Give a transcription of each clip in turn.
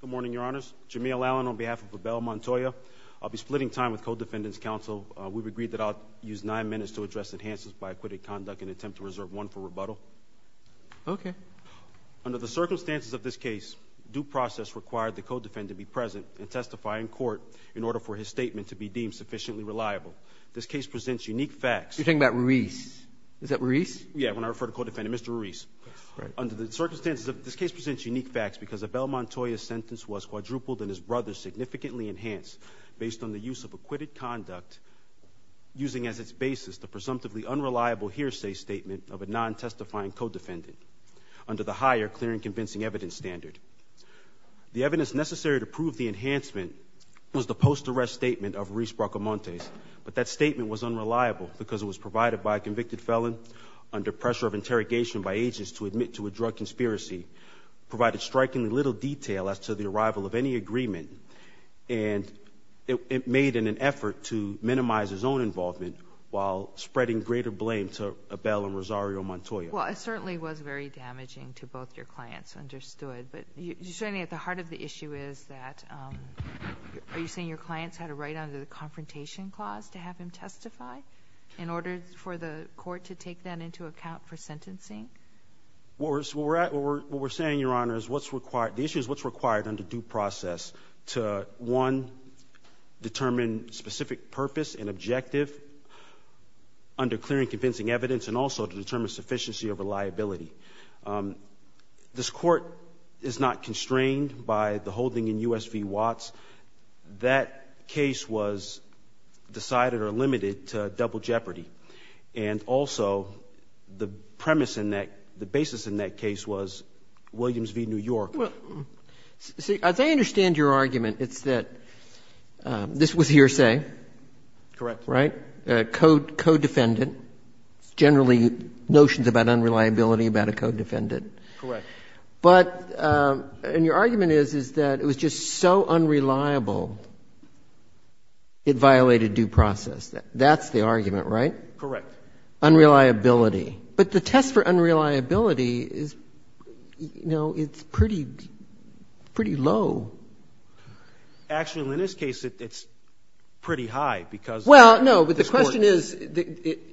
Good morning, your honors. Jameel Allen on behalf of Abel Montoya. I'll be splitting time with Code Defendant's counsel. We've agreed that I'll use nine minutes to address enhances by acquitted conduct and attempt to reserve one for rebuttal. Okay. Under the circumstances of this case, due process required the Code Defendant to be present and testify in court in order for his statement to be deemed sufficiently reliable. This case presents unique facts. You're talking about Ruiz. Is that Ruiz? Yeah, when I refer to Code Defendant, Mr. Ruiz. Right. Under the circumstances of this case presents unique facts because Abel Montoya's sentence was quadrupled and his brother's significantly enhanced based on the use of acquitted conduct using as its basis the presumptively unreliable hearsay statement of a non-testifying Code Defendant under the higher clear and convincing evidence standard. The evidence necessary to prove the enhancement was the post-arrest statement of Ruiz Bracamontes, but that statement was unreliable because it was provided by a convicted felon under pressure of interrogation by agents to admit to a drug conspiracy, provided strikingly little detail as to the arrival of any agreement, and it made an effort to minimize his own involvement while spreading greater blame to Abel and Rosario Montoya. Well, it certainly was very damaging to both your clients, understood, but you're saying at the heart of the issue is that are you saying your clients had to write under the statute to testify in order for the court to take that into account for sentencing? What we're saying, Your Honor, is what's required. The issue is what's required under due process to, one, determine specific purpose and objective under clear and convincing evidence and also to determine sufficiency of reliability. This court is not constrained by the holding in U.S. v. Watts. That case was decided or limited to double jeopardy. And also, the premise in that, the basis in that case was Williams v. New York. Well, see, as I understand your argument, it's that this was hearsay. Correct. Right? A codefendant, generally notions about unreliability about a codefendant. Correct. But — and your argument is, is that it was just so unreliable, it violated due process. That's the argument, right? Correct. Unreliability. But the test for unreliability is, you know, it's pretty low. Actually, in this case, it's pretty high because this Court — Well,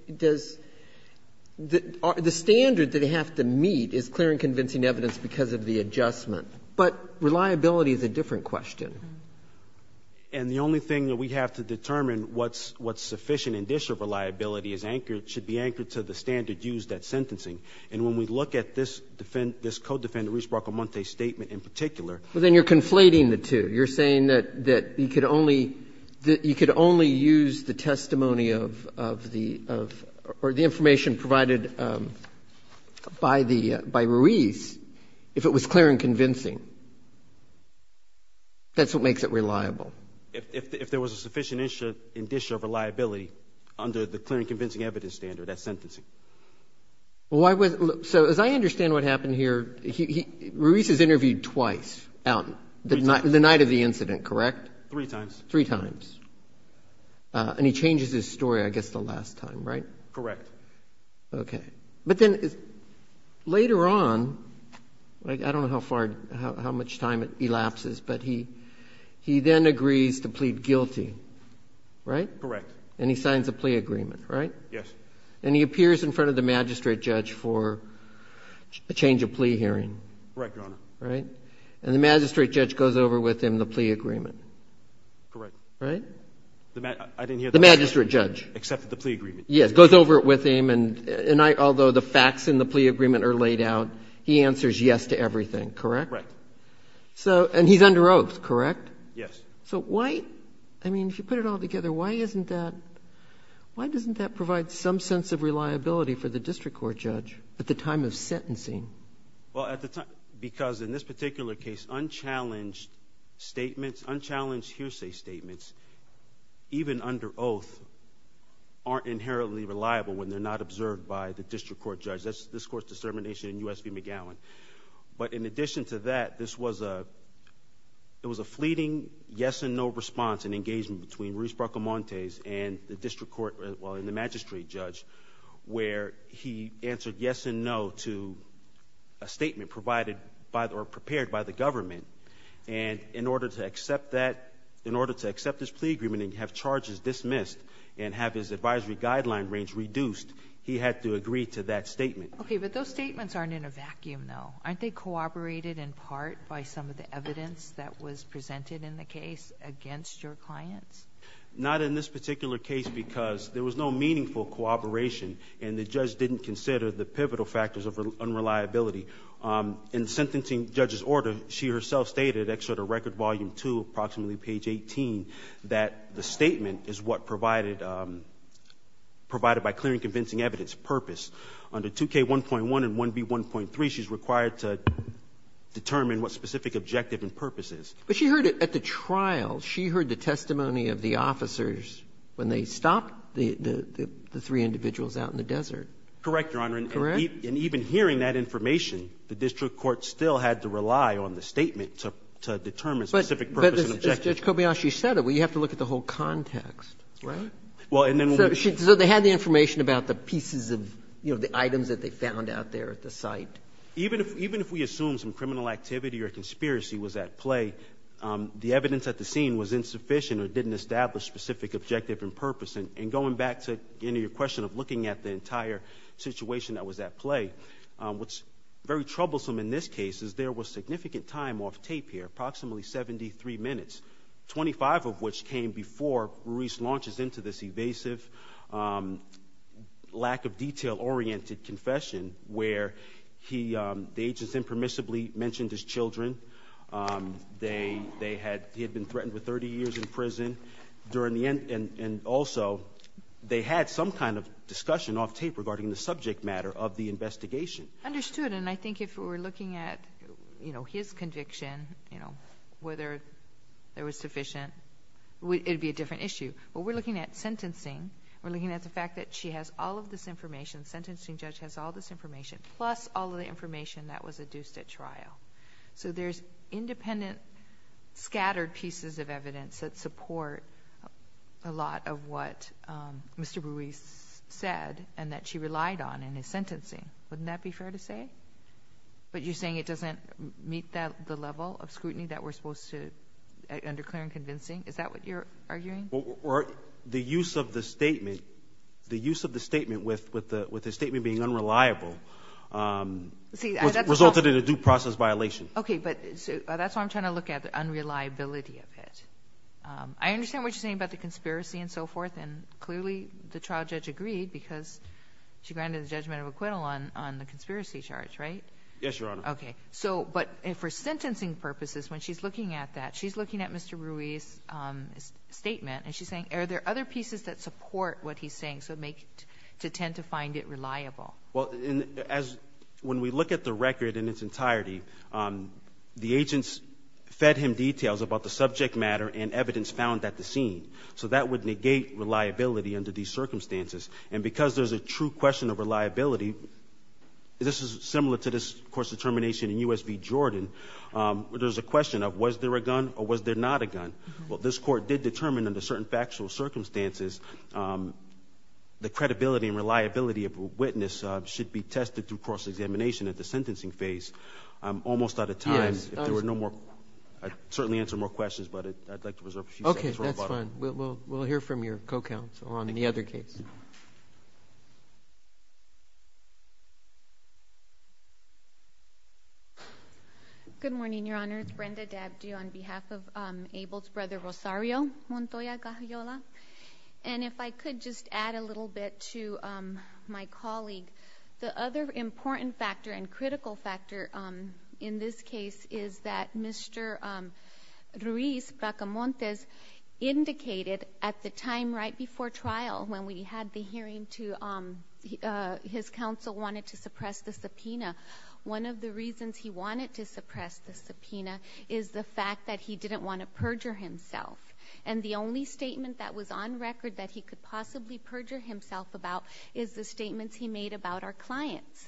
then you're conflating the two. You're saying that you could only use the testimony of the — or the information provided by the — by Ruiz to determine what's sufficient If it was clear and convincing, that's what makes it reliable. If there was a sufficient indicia of reliability under the clear and convincing evidence standard, that's sentencing. Well, why was — so, as I understand what happened here, Ruiz is interviewed twice out — Three times. — the night of the incident, correct? Three times. Three times. And he changes his story, I guess, the last time, right? Correct. Okay. But then later on, I don't know how far — how much time it elapses, but he then agrees to plead guilty, right? Correct. And he signs a plea agreement, right? Yes. And he appears in front of the magistrate judge for a change of plea hearing. Correct, Your Honor. Right? And the magistrate judge goes over with him the plea agreement. Correct. Right? I didn't hear that. The magistrate judge. Accepted the plea agreement. Yes, goes over it with him, and although the facts in the plea agreement are laid out, he answers yes to everything, correct? Right. So — and he's under oath, correct? Yes. So why — I mean, if you put it all together, why isn't that — why doesn't that provide some sense of reliability for the district court judge at the time of sentencing? Well, at the time — because in this particular case, unchallenged statements, unchallenged oaths aren't inherently reliable when they're not observed by the district court judge. That's — this Court's distermination in U.S. v. McGowan. But in addition to that, this was a — it was a fleeting yes-and-no response and engagement between Ruiz-Barcomontes and the district court — well, and the magistrate judge, where he answered yes and no to a statement provided by — or prepared by the government. And in order to accept that — in order to accept his plea agreement and have charges dismissed and have his advisory guideline range reduced, he had to agree to that statement. Okay. But those statements aren't in a vacuum, though. Aren't they corroborated in part by some of the evidence that was presented in the case against your clients? Not in this particular case, because there was no meaningful corroboration, and the judge didn't consider the pivotal factors of unreliability. In sentencing judge's order, she herself stated, excerpt of Record Volume 2, approximately page 18, that the statement is what provided — provided by clear and convincing evidence, purpose. Under 2K1.1 and 1B1.3, she's required to determine what specific objective and purpose is. But she heard it at the trial. She heard the testimony of the officers when they stopped the three individuals out in the desert. Correct, Your Honor. Correct. And even hearing that information, the district court still had to rely on the statement to determine specific purpose and objective. But Judge Kobayashi said it. Well, you have to look at the whole context, right? Well, and then we'll be sure. So they had the information about the pieces of, you know, the items that they found out there at the site. Even if we assume some criminal activity or conspiracy was at play, the evidence at the scene was insufficient or didn't establish specific objective and purpose. And going back to your question of looking at the entire situation that was at play, what's very troublesome in this case is there was significant time off tape here, approximately 73 minutes, 25 of which came before Ruiz launches into this evasive, lack-of-detail-oriented confession where he — the agents impermissibly mentioned his children. They had — he had been threatened with 30 years in prison. And also, they had some kind of discussion off tape regarding the subject matter of the investigation. Understood. And I think if we were looking at, you know, his conviction, you know, whether there was sufficient — it would be a different issue. But we're looking at sentencing. We're looking at the fact that she has all of this information, the sentencing judge has all this information, plus all of the information that was adduced at trial. So there's independent, scattered pieces of evidence that support a lot of what Mr. Ruiz said and that she relied on in his sentencing. Wouldn't that be fair to say? But you're saying it doesn't meet the level of scrutiny that we're supposed to — under clear and convincing? Is that what you're arguing? Well, the use of the statement, the use of the statement with the statement being unreliable — See, that's —— resulted in a due process violation. Okay. But that's what I'm trying to look at, the unreliability of it. I understand what you're saying about the conspiracy and so forth, and clearly the trial judge agreed because she granted the judgment of acquittal on the conspiracy charge, right? Yes, Your Honor. Okay. So — but for sentencing purposes, when she's looking at that, she's looking at Mr. Ruiz's statement, and she's saying, are there other pieces that support what he's saying to tend to find it reliable? Well, when we look at the record in its entirety, the agents fed him details about the subject matter and evidence found at the scene. So that would negate reliability under these circumstances. And because there's a true question of reliability, this is similar to this court's determination in U.S. v. Jordan, where there's a question of was there a gun or was there not a gun? Well, this court did determine under certain factual circumstances the credibility and reliability of a witness should be tested through cross-examination at the sentencing phase almost out of time. I'd certainly answer more questions, but I'd like to reserve a few seconds. Okay, that's fine. We'll hear from your co-counsel on any other case. Good morning, Your Honor. My name is Brenda Dabdio on behalf of Abel's brother, Rosario Montoya Gajayola. And if I could just add a little bit to my colleague, the other important factor and critical factor in this case is that Mr. Ruiz Bracamontes indicated at the time right before trial when we had the hearing, his counsel wanted to suppress the subpoena. One of the reasons he wanted to suppress the subpoena is the fact that he didn't want to perjure himself. And the only statement that was on record that he could possibly perjure himself about is the statements he made about our clients.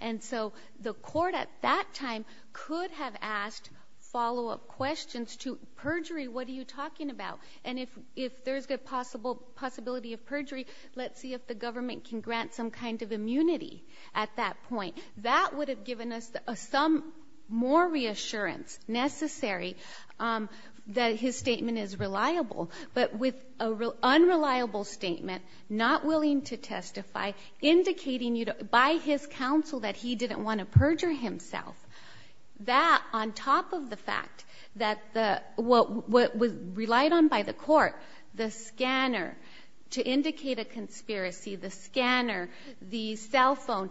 And so the court at that time could have asked follow-up questions to, perjury, what are you talking about? And if there's a possibility of perjury, let's see if the government can grant some kind of immunity at that point. That would have given us some more reassurance necessary that his statement is reliable. But with an unreliable statement, not willing to testify, indicating by his counsel that he didn't want to perjure himself, that on top of the fact that what was relied on by the court, the scanner to indicate a conspiracy, the scanner, the cell phone,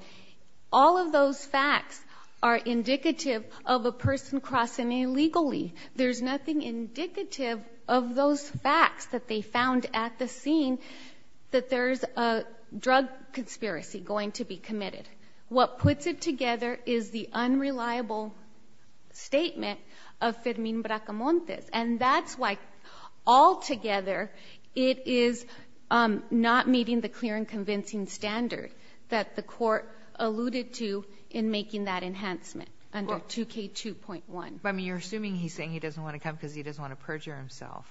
all of those facts are indicative of a person crossing illegally. There's nothing indicative of those facts that they found at the scene that there's a drug conspiracy going to be committed. What puts it together is the unreliable statement of Fermin Bracamontes. And that's why altogether it is not meeting the clear and convincing standard that the court alluded to in making that enhancement under 2K2.1. But you're assuming he's saying he doesn't want to come because he doesn't want to perjure himself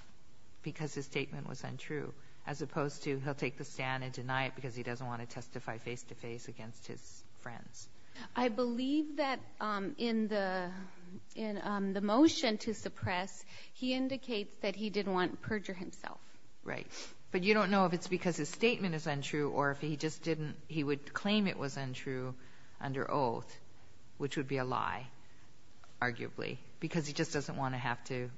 because his statement was untrue, as opposed to he'll take the stand and deny it because he doesn't want to testify face-to-face against his friends. I believe that in the motion to suppress, he indicates that he didn't want to perjure himself. Right. But you don't know if it's because his statement is untrue or if he would claim it was untrue under oath, which would be a lie, arguably, because he just doesn't want to have to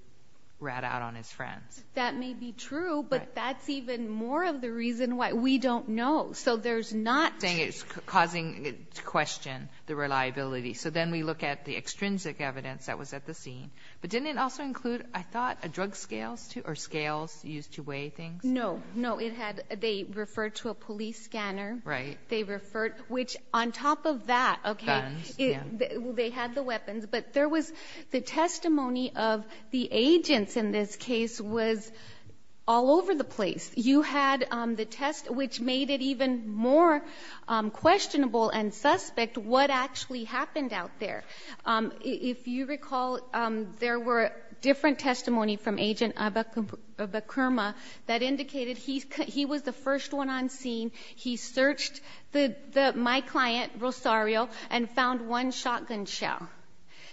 rat out on his friends. That may be true, but that's even more of the reason why we don't know. So there's not saying it's causing question the reliability. So then we look at the extrinsic evidence that was at the scene. But didn't it also include, I thought, a drug scale or scales used to weigh things? No, no. They referred to a police scanner. Right. They referred, which on top of that, okay, they had the weapons, but there was the testimony of the agents in this case was all over the place. You had the test, which made it even more questionable and suspect what actually happened out there. If you recall, there were different testimonies from Agent Abakurma that indicated he was the first one on scene. He searched my client, Rosario, and found one shotgun shell.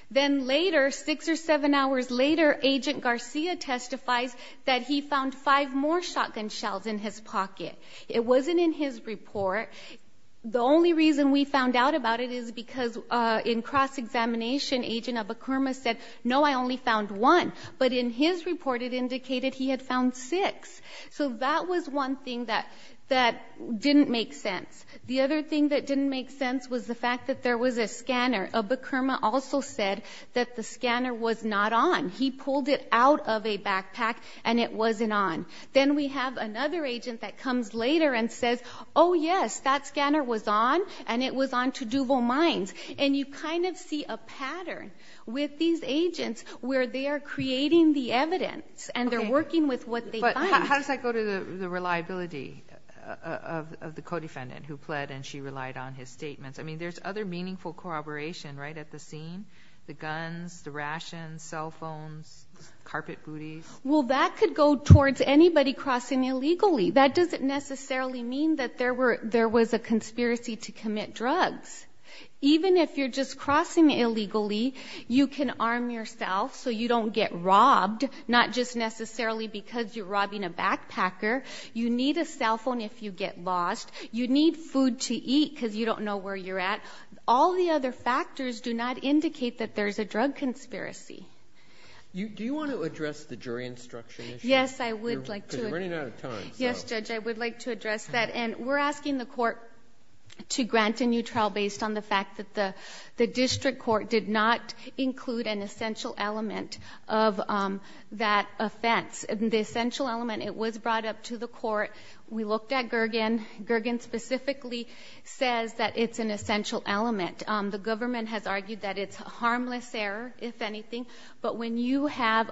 Then later, six or seven hours later, Agent Garcia testifies that he found five more shotgun shells in his pocket. It wasn't in his report. The only reason we found out about it is because in cross-examination, Agent Abakurma said, no, I only found one. But in his report, it indicated he had found six. So that was one thing that didn't make sense. The other thing that didn't make sense was the fact that there was a scanner. Abakurma also said that the scanner was not on. He pulled it out of a backpack, and it wasn't on. Then we have another agent that comes later and says, oh, yes, that scanner was on, and it was on to Duval Mines. And you kind of see a pattern with these agents where they are creating the evidence, and they're working with what they find. But how does that go to the reliability of the co-defendant who pled, and she relied on his statements? I mean, there's other meaningful corroboration, right, at the scene, the guns, the rations, cell phones, carpet booties. Well, that could go towards anybody crossing illegally. That doesn't necessarily mean that there was a conspiracy to commit drugs. Even if you're just crossing illegally, you can arm yourself so you don't get robbed, not just necessarily because you're robbing a backpacker. You need a cell phone if you get lost. You need food to eat because you don't know where you're at. All the other factors do not indicate that there's a drug conspiracy. Do you want to address the jury instruction issue? Yes, I would like to. Because you're running out of time. Yes, Judge, I would like to address that. And we're asking the court to grant a new trial based on the fact that the district court did not include an essential element of that offense. The essential element, it was brought up to the court. We looked at Gergen. Gergen specifically says that it's an essential element. The government has argued that it's a harmless error, if anything. But when you have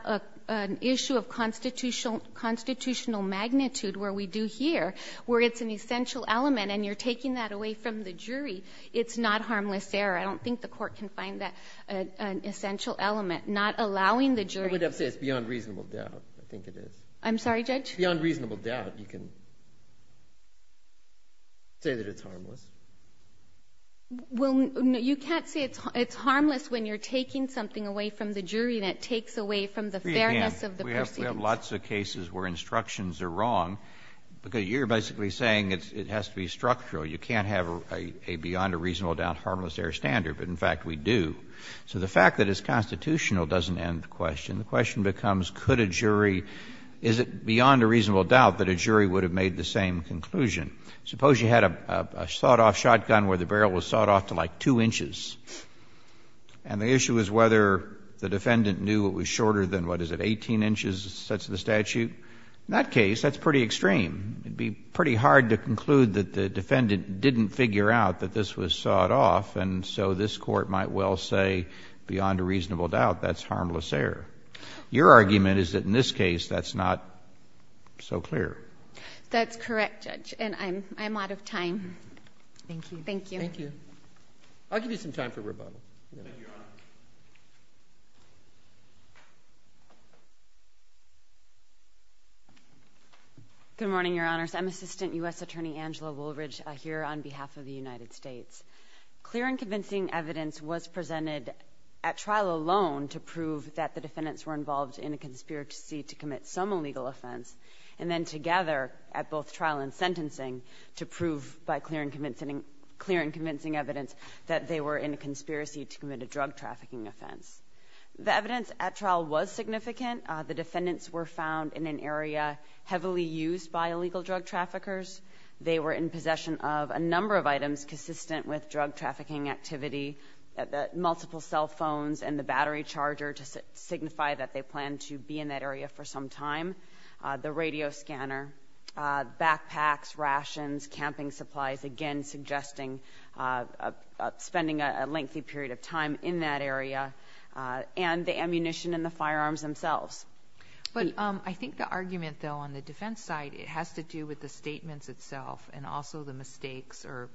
an issue of constitutional magnitude, where we do here, where it's an essential element and you're taking that away from the jury, it's not harmless error. I don't think the court can find that an essential element, not allowing the jury. I would have to say it's beyond reasonable doubt. I think it is. I'm sorry, Judge? Beyond reasonable doubt, you can say that it's harmless. Well, you can't say it's harmless when you're taking something away from the jury and it takes away from the fairness of the proceedings. We have lots of cases where instructions are wrong. You're basically saying it has to be structural. You can't have a beyond a reasonable doubt harmless error standard. But, in fact, we do. So the fact that it's constitutional doesn't end the question. The question becomes, could a jury, is it beyond a reasonable doubt that a jury would have made the same conclusion? Suppose you had a sawed-off shotgun where the barrel was sawed off to, like, 2 inches. And the issue is whether the defendant knew it was shorter than, what is it, 18 inches, it says in the statute. In that case, that's pretty extreme. It would be pretty hard to conclude that the defendant didn't figure out that this was sawed off. And so this Court might well say, beyond a reasonable doubt, that's harmless error. Your argument is that, in this case, that's not so clear. That's correct, Judge. And I'm out of time. Thank you. Thank you. I'll give you some time for rebuttal. Thank you, Your Honor. Good morning, Your Honors. I'm Assistant U.S. Attorney Angela Woolridge here on behalf of the United States. Clear and convincing evidence was presented at trial alone to prove that the defendants were involved in a conspiracy to commit some illegal offense. And then together, at both trial and sentencing, to prove, by clear and convincing evidence, that they were in a conspiracy to commit a drug trafficking offense. The evidence at trial was significant. The defendants were found in an area heavily used by illegal drug traffickers. They were in possession of a number of items consistent with drug trafficking activity, multiple cell phones and the battery charger to signify that they planned to be in that area for some time. The radio scanner, backpacks, rations, camping supplies, again, suggesting spending a lengthy period of time in that area. And the ammunition and the firearms themselves. But I think the argument, though, on the defense side, it has to do with the statements itself and also the mistakes or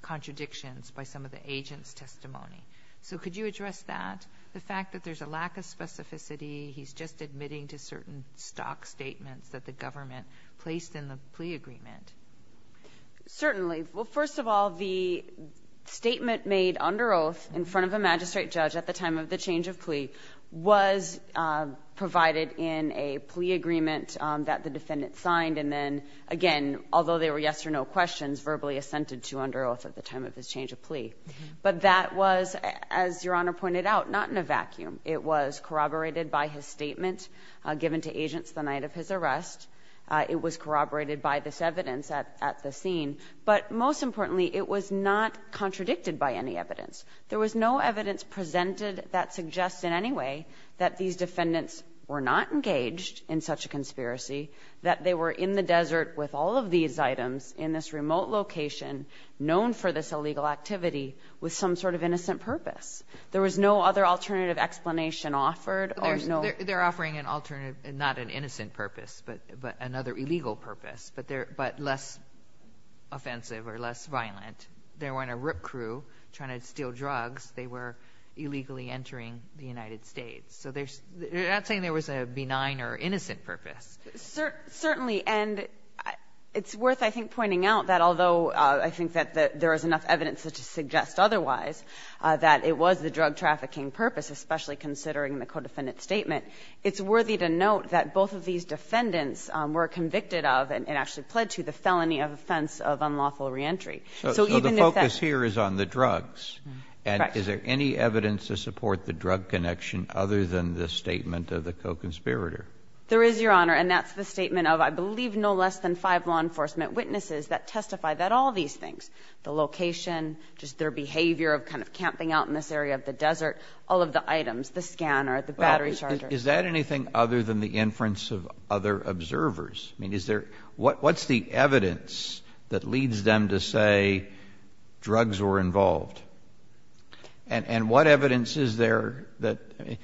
contradictions by some of the agents' testimony. So could you address that, the fact that there's a lack of specificity, he's just admitting to certain stock statements that the government placed in the plea agreement? Certainly. Well, first of all, the statement made under oath in front of a magistrate judge at the time of the change of plea was provided in a plea agreement that the defendant signed and then, again, although there were yes or no questions, verbally assented to under oath at the time of his change of plea. But that was, as Your Honor pointed out, not in a vacuum. It was corroborated by his statement given to agents the night of his arrest. It was corroborated by this evidence at the scene. But most importantly, it was not contradicted by any evidence. There was no evidence presented that suggests in any way that these defendants were not engaged in such a conspiracy, that they were in the desert with all of these items in this remote location known for this illegal activity with some sort of innocent purpose. There was no other alternative explanation offered. There's no other. They're offering an alternative, not an innocent purpose, but another illegal purpose, but less offensive or less violent. They weren't a rip crew trying to steal drugs. They were illegally entering the United States. So they're not saying there was a benign or innocent purpose. Certainly. And it's worth, I think, pointing out that although I think that there is enough evidence to suggest otherwise, that it was the drug trafficking purpose, especially considering the co-defendant's statement, it's worthy to note that both of these defendants were convicted of and actually pled to the felony of offense of unlawful reentry. So even if that ---- So the focus here is on the drugs. Correct. And is there any evidence to support the drug connection other than the statement of the co-conspirator? There is, Your Honor, and that's the statement of, I believe, no less than five law attorneys that have testified to the drug connection, just their behavior of kind of camping out in this area of the desert, all of the items, the scanner, the battery charger. Well, is that anything other than the inference of other observers? I mean, is there ---- What's the evidence that leads them to say drugs were involved? And what evidence is there that ----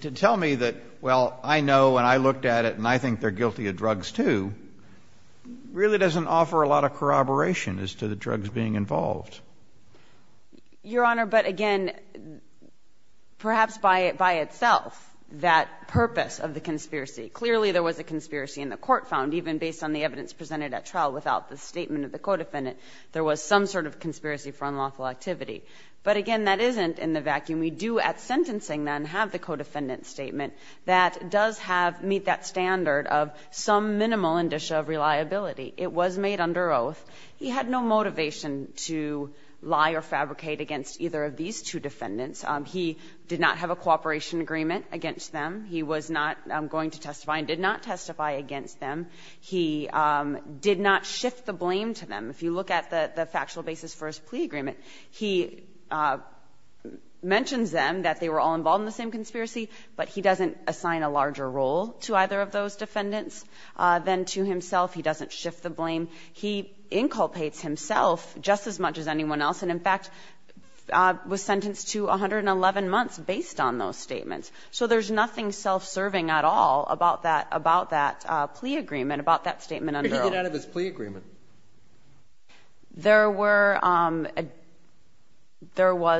To tell me that, well, I know and I looked at it and I think they're guilty of drugs, too, really doesn't offer a lot of corroboration as to the drugs being involved. Your Honor, but again, perhaps by itself, that purpose of the conspiracy, clearly there was a conspiracy in the court found, even based on the evidence presented at trial, without the statement of the co-defendant, there was some sort of conspiracy for unlawful activity. But again, that isn't in the vacuum. We do at sentencing then have the co-defendant statement that does have, meet that standard of some minimal indicia of reliability. It was made under oath. He had no motivation to lie or fabricate against either of these two defendants. He did not have a cooperation agreement against them. He was not going to testify and did not testify against them. He did not shift the blame to them. If you look at the factual basis for his plea agreement, he mentions them, that they were all involved in the same conspiracy, but he doesn't assign a larger role to either of those defendants than to himself. He doesn't shift the blame. He inculpates himself just as much as anyone else and, in fact, was sentenced to 111 months based on those statements. So there's nothing self-serving at all about that plea agreement, about that statement under oath. So what did he get out of his plea agreement? There were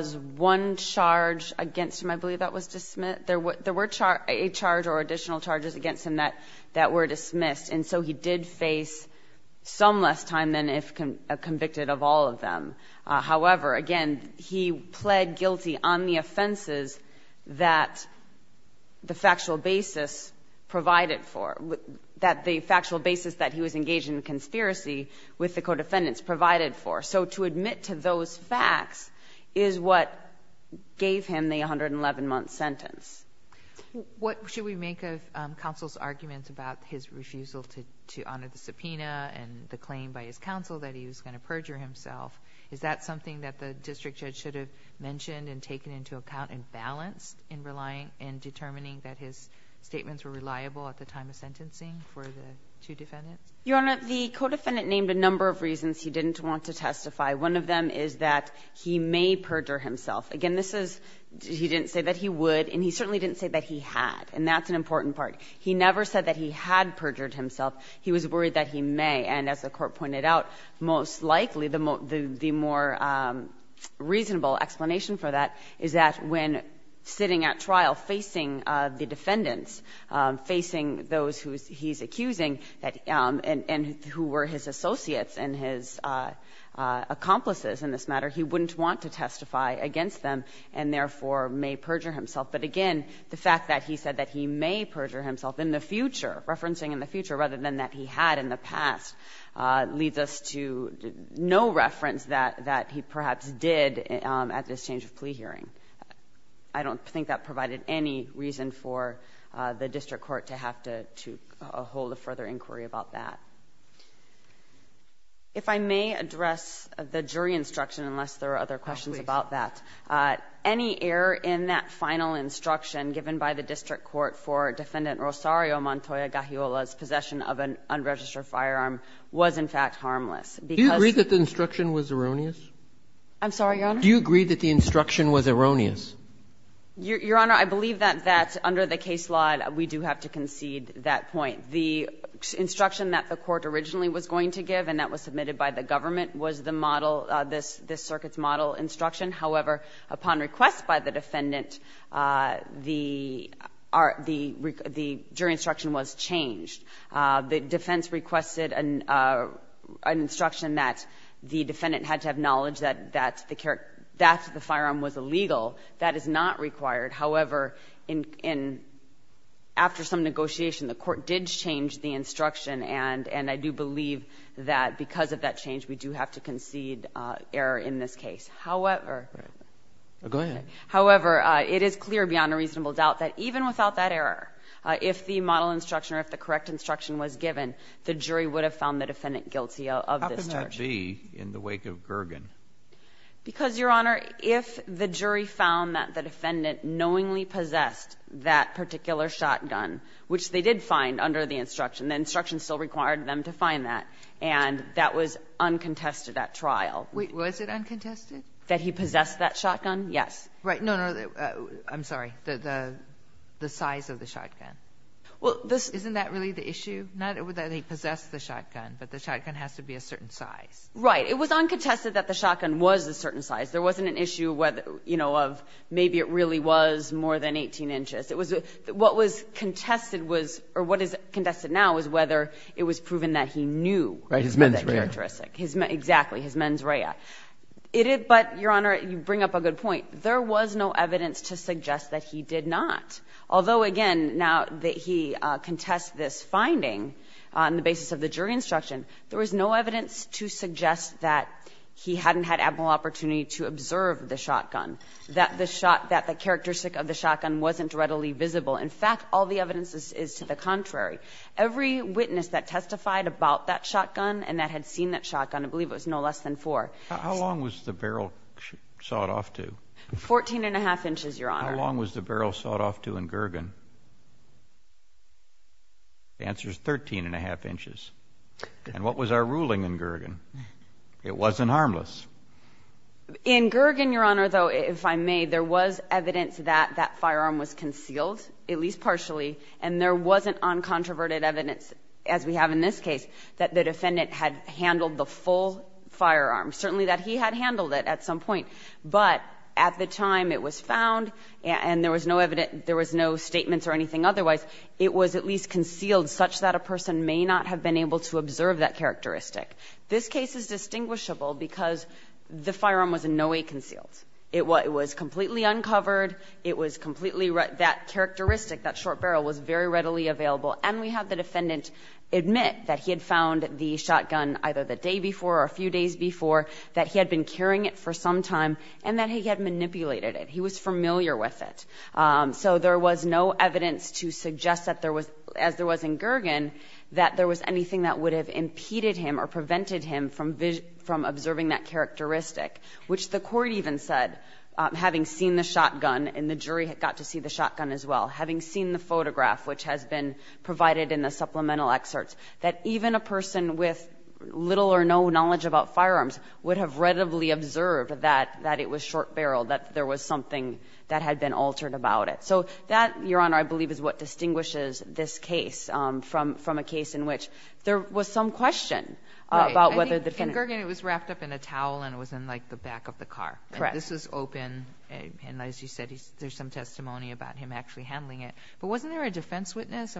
one charge against him, I believe that was dismissed. There were a charge or additional charges against him that were dismissed. And so he did face some less time than if convicted of all of them. However, again, he pled guilty on the offenses that the factual basis provided for, that the factual basis that he was engaged in the conspiracy with the co-defendants provided for. So to admit to those facts is what gave him the 111-month sentence. What should we make of counsel's arguments about his refusal to honor the subpoena and the claim by his counsel that he was going to perjure himself? Is that something that the district judge should have mentioned and taken into account and balanced in relying and determining that his statements were reliable at the time of sentencing for the two defendants? Your Honor, the co-defendant named a number of reasons he didn't want to testify. One of them is that he may perjure himself. Again, this is he didn't say that he would, and he certainly didn't say that he had. And that's an important part. He never said that he had perjured himself. He was worried that he may. And as the Court pointed out, most likely the more reasonable explanation for that is that when sitting at trial facing the defendants, facing those who he's accusing and who were his associates and his accomplices in this matter, he wouldn't want to testify against them and therefore may perjure himself. But again, the fact that he said that he may perjure himself in the future, referencing in the future rather than that he had in the past, leads us to no reference that he perhaps did at this change of plea hearing. I don't think that provided any reason for the district court to have to hold a further inquiry about that. If I may address the jury instruction, unless there are other questions about that. Any error in that final instruction given by the district court for Defendant Rosario Montoya Gajiola's possession of an unregistered firearm was, in fact, harmless. Do you agree that the instruction was erroneous? I'm sorry, Your Honor? Do you agree that the instruction was erroneous? Your Honor, I believe that under the case law we do have to concede that point. The instruction that the Court originally was going to give and that was submitted by the government was the model, this circuit's model instruction. However, upon request by the defendant, the jury instruction was changed. The defense requested an instruction that the defendant had to have knowledge that the firearm was illegal. That is not required. However, after some negotiation, the Court did change the instruction, and I do believe that because of that change we do have to concede error in this case. However. Go ahead. However, it is clear beyond a reasonable doubt that even without that error, if the model instruction or if the correct instruction was given, the jury would have found the defendant guilty of this charge. How can that be in the wake of Gergen? Because, Your Honor, if the jury found that the defendant knowingly possessed that particular shotgun, which they did find under the instruction, the instruction still required them to find that, and that was uncontested at trial. Wait. Was it uncontested? That he possessed that shotgun? Yes. No, no. I'm sorry. The size of the shotgun. Isn't that really the issue? Not that he possessed the shotgun, but the shotgun has to be a certain size. Right. It was uncontested that the shotgun was a certain size. There wasn't an issue, you know, of maybe it really was more than 18 inches. What was contested was or what is contested now is whether it was proven that he knew that characteristic. Right, his mens rea. Exactly, his mens rea. But, Your Honor, you bring up a good point. There was no evidence to suggest that he did not. Although, again, now he contests this finding on the basis of the jury instruction, there was no evidence to suggest that he hadn't had ample opportunity to observe the shotgun, that the shot, that the characteristic of the shotgun wasn't readily visible. In fact, all the evidence is to the contrary. Every witness that testified about that shotgun and that had seen that shotgun, I believe it was no less than 4. How long was the barrel sawed off to? 14-1⁄2 inches, Your Honor. How long was the barrel sawed off to in Gergen? The answer is 13-1⁄2 inches. And what was our ruling in Gergen? It wasn't harmless. In Gergen, Your Honor, though, if I may, there was evidence that that firearm was concealed, at least partially, and there wasn't uncontroverted evidence, as we have in this case, that the defendant had handled the full firearm, certainly that he had handled it at some point. But at the time it was found and there was no evidence, there was no statements or anything otherwise, it was at least concealed such that a person may not have been able to observe that characteristic. This case is distinguishable because the firearm was in no way concealed. It was completely uncovered. It was completely red. That characteristic, that short barrel, was very readily available. And we have the defendant admit that he had found the shotgun either the day before or a few days before, that he had been carrying it for some time, and that he had manipulated it. He was familiar with it. So there was no evidence to suggest that there was, as there was in Gergen, that there was anything that would have impeded him or prevented him from observing that characteristic, which the court even said, having seen the shotgun, and the jury got to see the shotgun as well, having seen the photograph, which has been provided in the supplemental excerpts, that even a person with little or no knowledge about firearms would have readily observed that it was short barreled, that there was something that had been altered about it. So that, Your Honor, I believe is what distinguishes this case from a case in which there was some question about whether the defendant ---- Right. I think in Gergen it was wrapped up in a towel and it was in, like, the back of the car. Correct. And this was open. And as you said, there's some testimony about him actually handling it. But wasn't there a defense witness,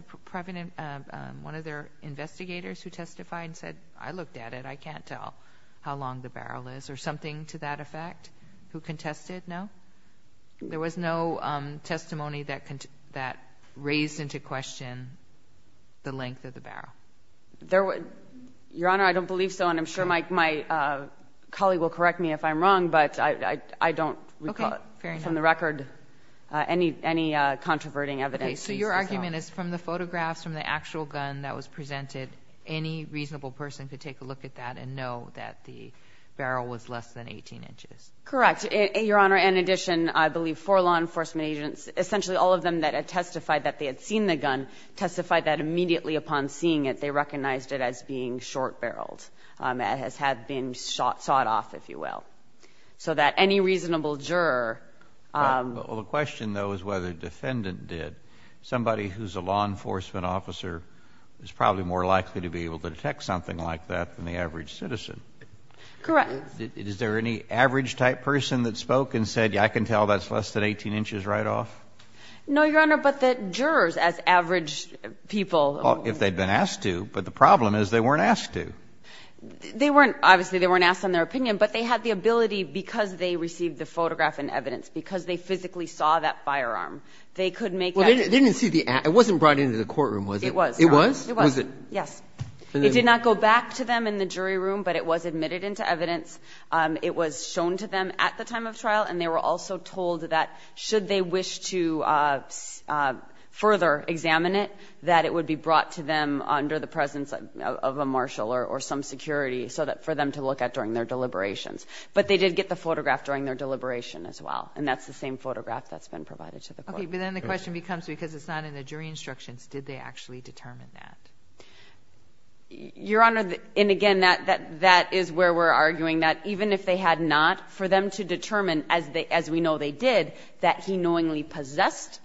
one of their investigators who testified and said, I looked at it, I can't tell how long the barrel is, or something to that effect, who contested? No? There was no testimony that raised into question the length of the barrel. Your Honor, I don't believe so, and I'm sure my colleague will correct me if I'm wrong, but I don't recall from the record any controverting evidence. Okay. So your argument is from the photographs, from the actual gun that was presented, any reasonable person could take a look at that and know that the barrel was less than 18 inches? Correct. Your Honor, in addition, I believe four law enforcement agents, essentially all of them that had testified that they had seen the gun, testified that immediately upon seeing it, they recognized it as being short barreled. It had been sawed off, if you will. So that any reasonable juror ---- Well, the question, though, is whether the defendant did. Somebody who's a law enforcement officer is probably more likely to be able to detect something like that than the average citizen. Correct. Is there any average-type person that spoke and said, yes, I can tell that's less than 18 inches right off? No, Your Honor, but the jurors, as average people ---- Well, if they'd been asked to. But the problem is they weren't asked to. They weren't, obviously, they weren't asked on their opinion, but they had the ability because they received the photograph and evidence, because they physically saw that firearm, they could make that ---- Well, they didn't see the act. It wasn't brought into the courtroom, was it? It was, Your Honor. It was? It was. Was it? Yes. It did not go back to them in the jury room, but it was admitted into evidence. It was shown to them at the time of trial, and they were also told that should they wish to further examine it, that it would be brought to them under the presence of a marshal or some security so that for them to look at during their deliberations. But they did get the photograph during their deliberation as well, and that's the same photograph that's been provided to the court. Okay. But then the question becomes, because it's not in the jury instructions, did they actually determine that? Your Honor, and again, that is where we're arguing that even if they had not, for them to determine, as we know they did, that he knowingly possessed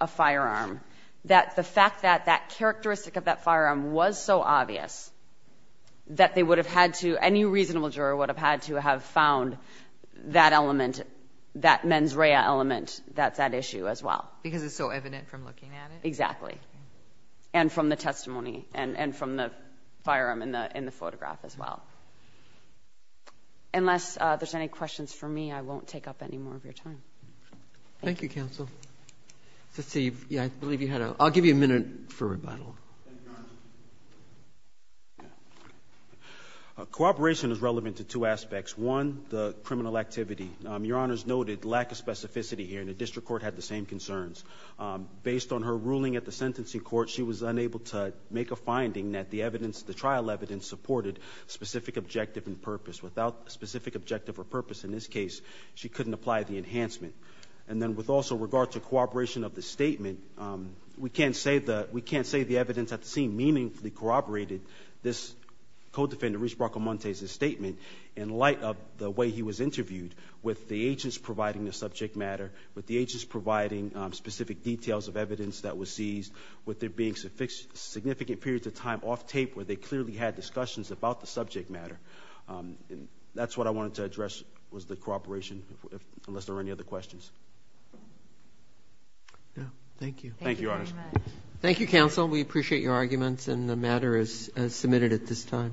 a firearm, that the fact that that characteristic of that firearm was so obvious that they never would have had to have found that element, that mens rea element, that's that issue as well. Because it's so evident from looking at it? Exactly. And from the testimony and from the firearm in the photograph as well. Unless there's any questions for me, I won't take up any more of your time. Thank you, counsel. Let's see. Yeah, I believe you had a – I'll give you a minute for rebuttal. Thank you, Your Honor. Yeah. Cooperation is relevant to two aspects. One, the criminal activity. Your Honor's noted lack of specificity here, and the district court had the same concerns. Based on her ruling at the sentencing court, she was unable to make a finding that the evidence, the trial evidence, supported specific objective and purpose. Without specific objective or purpose in this case, she couldn't apply the enhancement. And then with also regard to cooperation of the statement, we can't say the evidence at the scene meaningfully corroborated this co-defender, Rich Bracamonte's, statement in light of the way he was interviewed with the agents providing the subject matter, with the agents providing specific details of evidence that was seized, with there being significant periods of time off tape where they clearly had discussions about the subject matter. And that's what I wanted to address was the cooperation, unless there are any Yeah, thank you. Thank you, Your Honor. Thank you, counsel. We appreciate your arguments, and the matter is submitted at this time.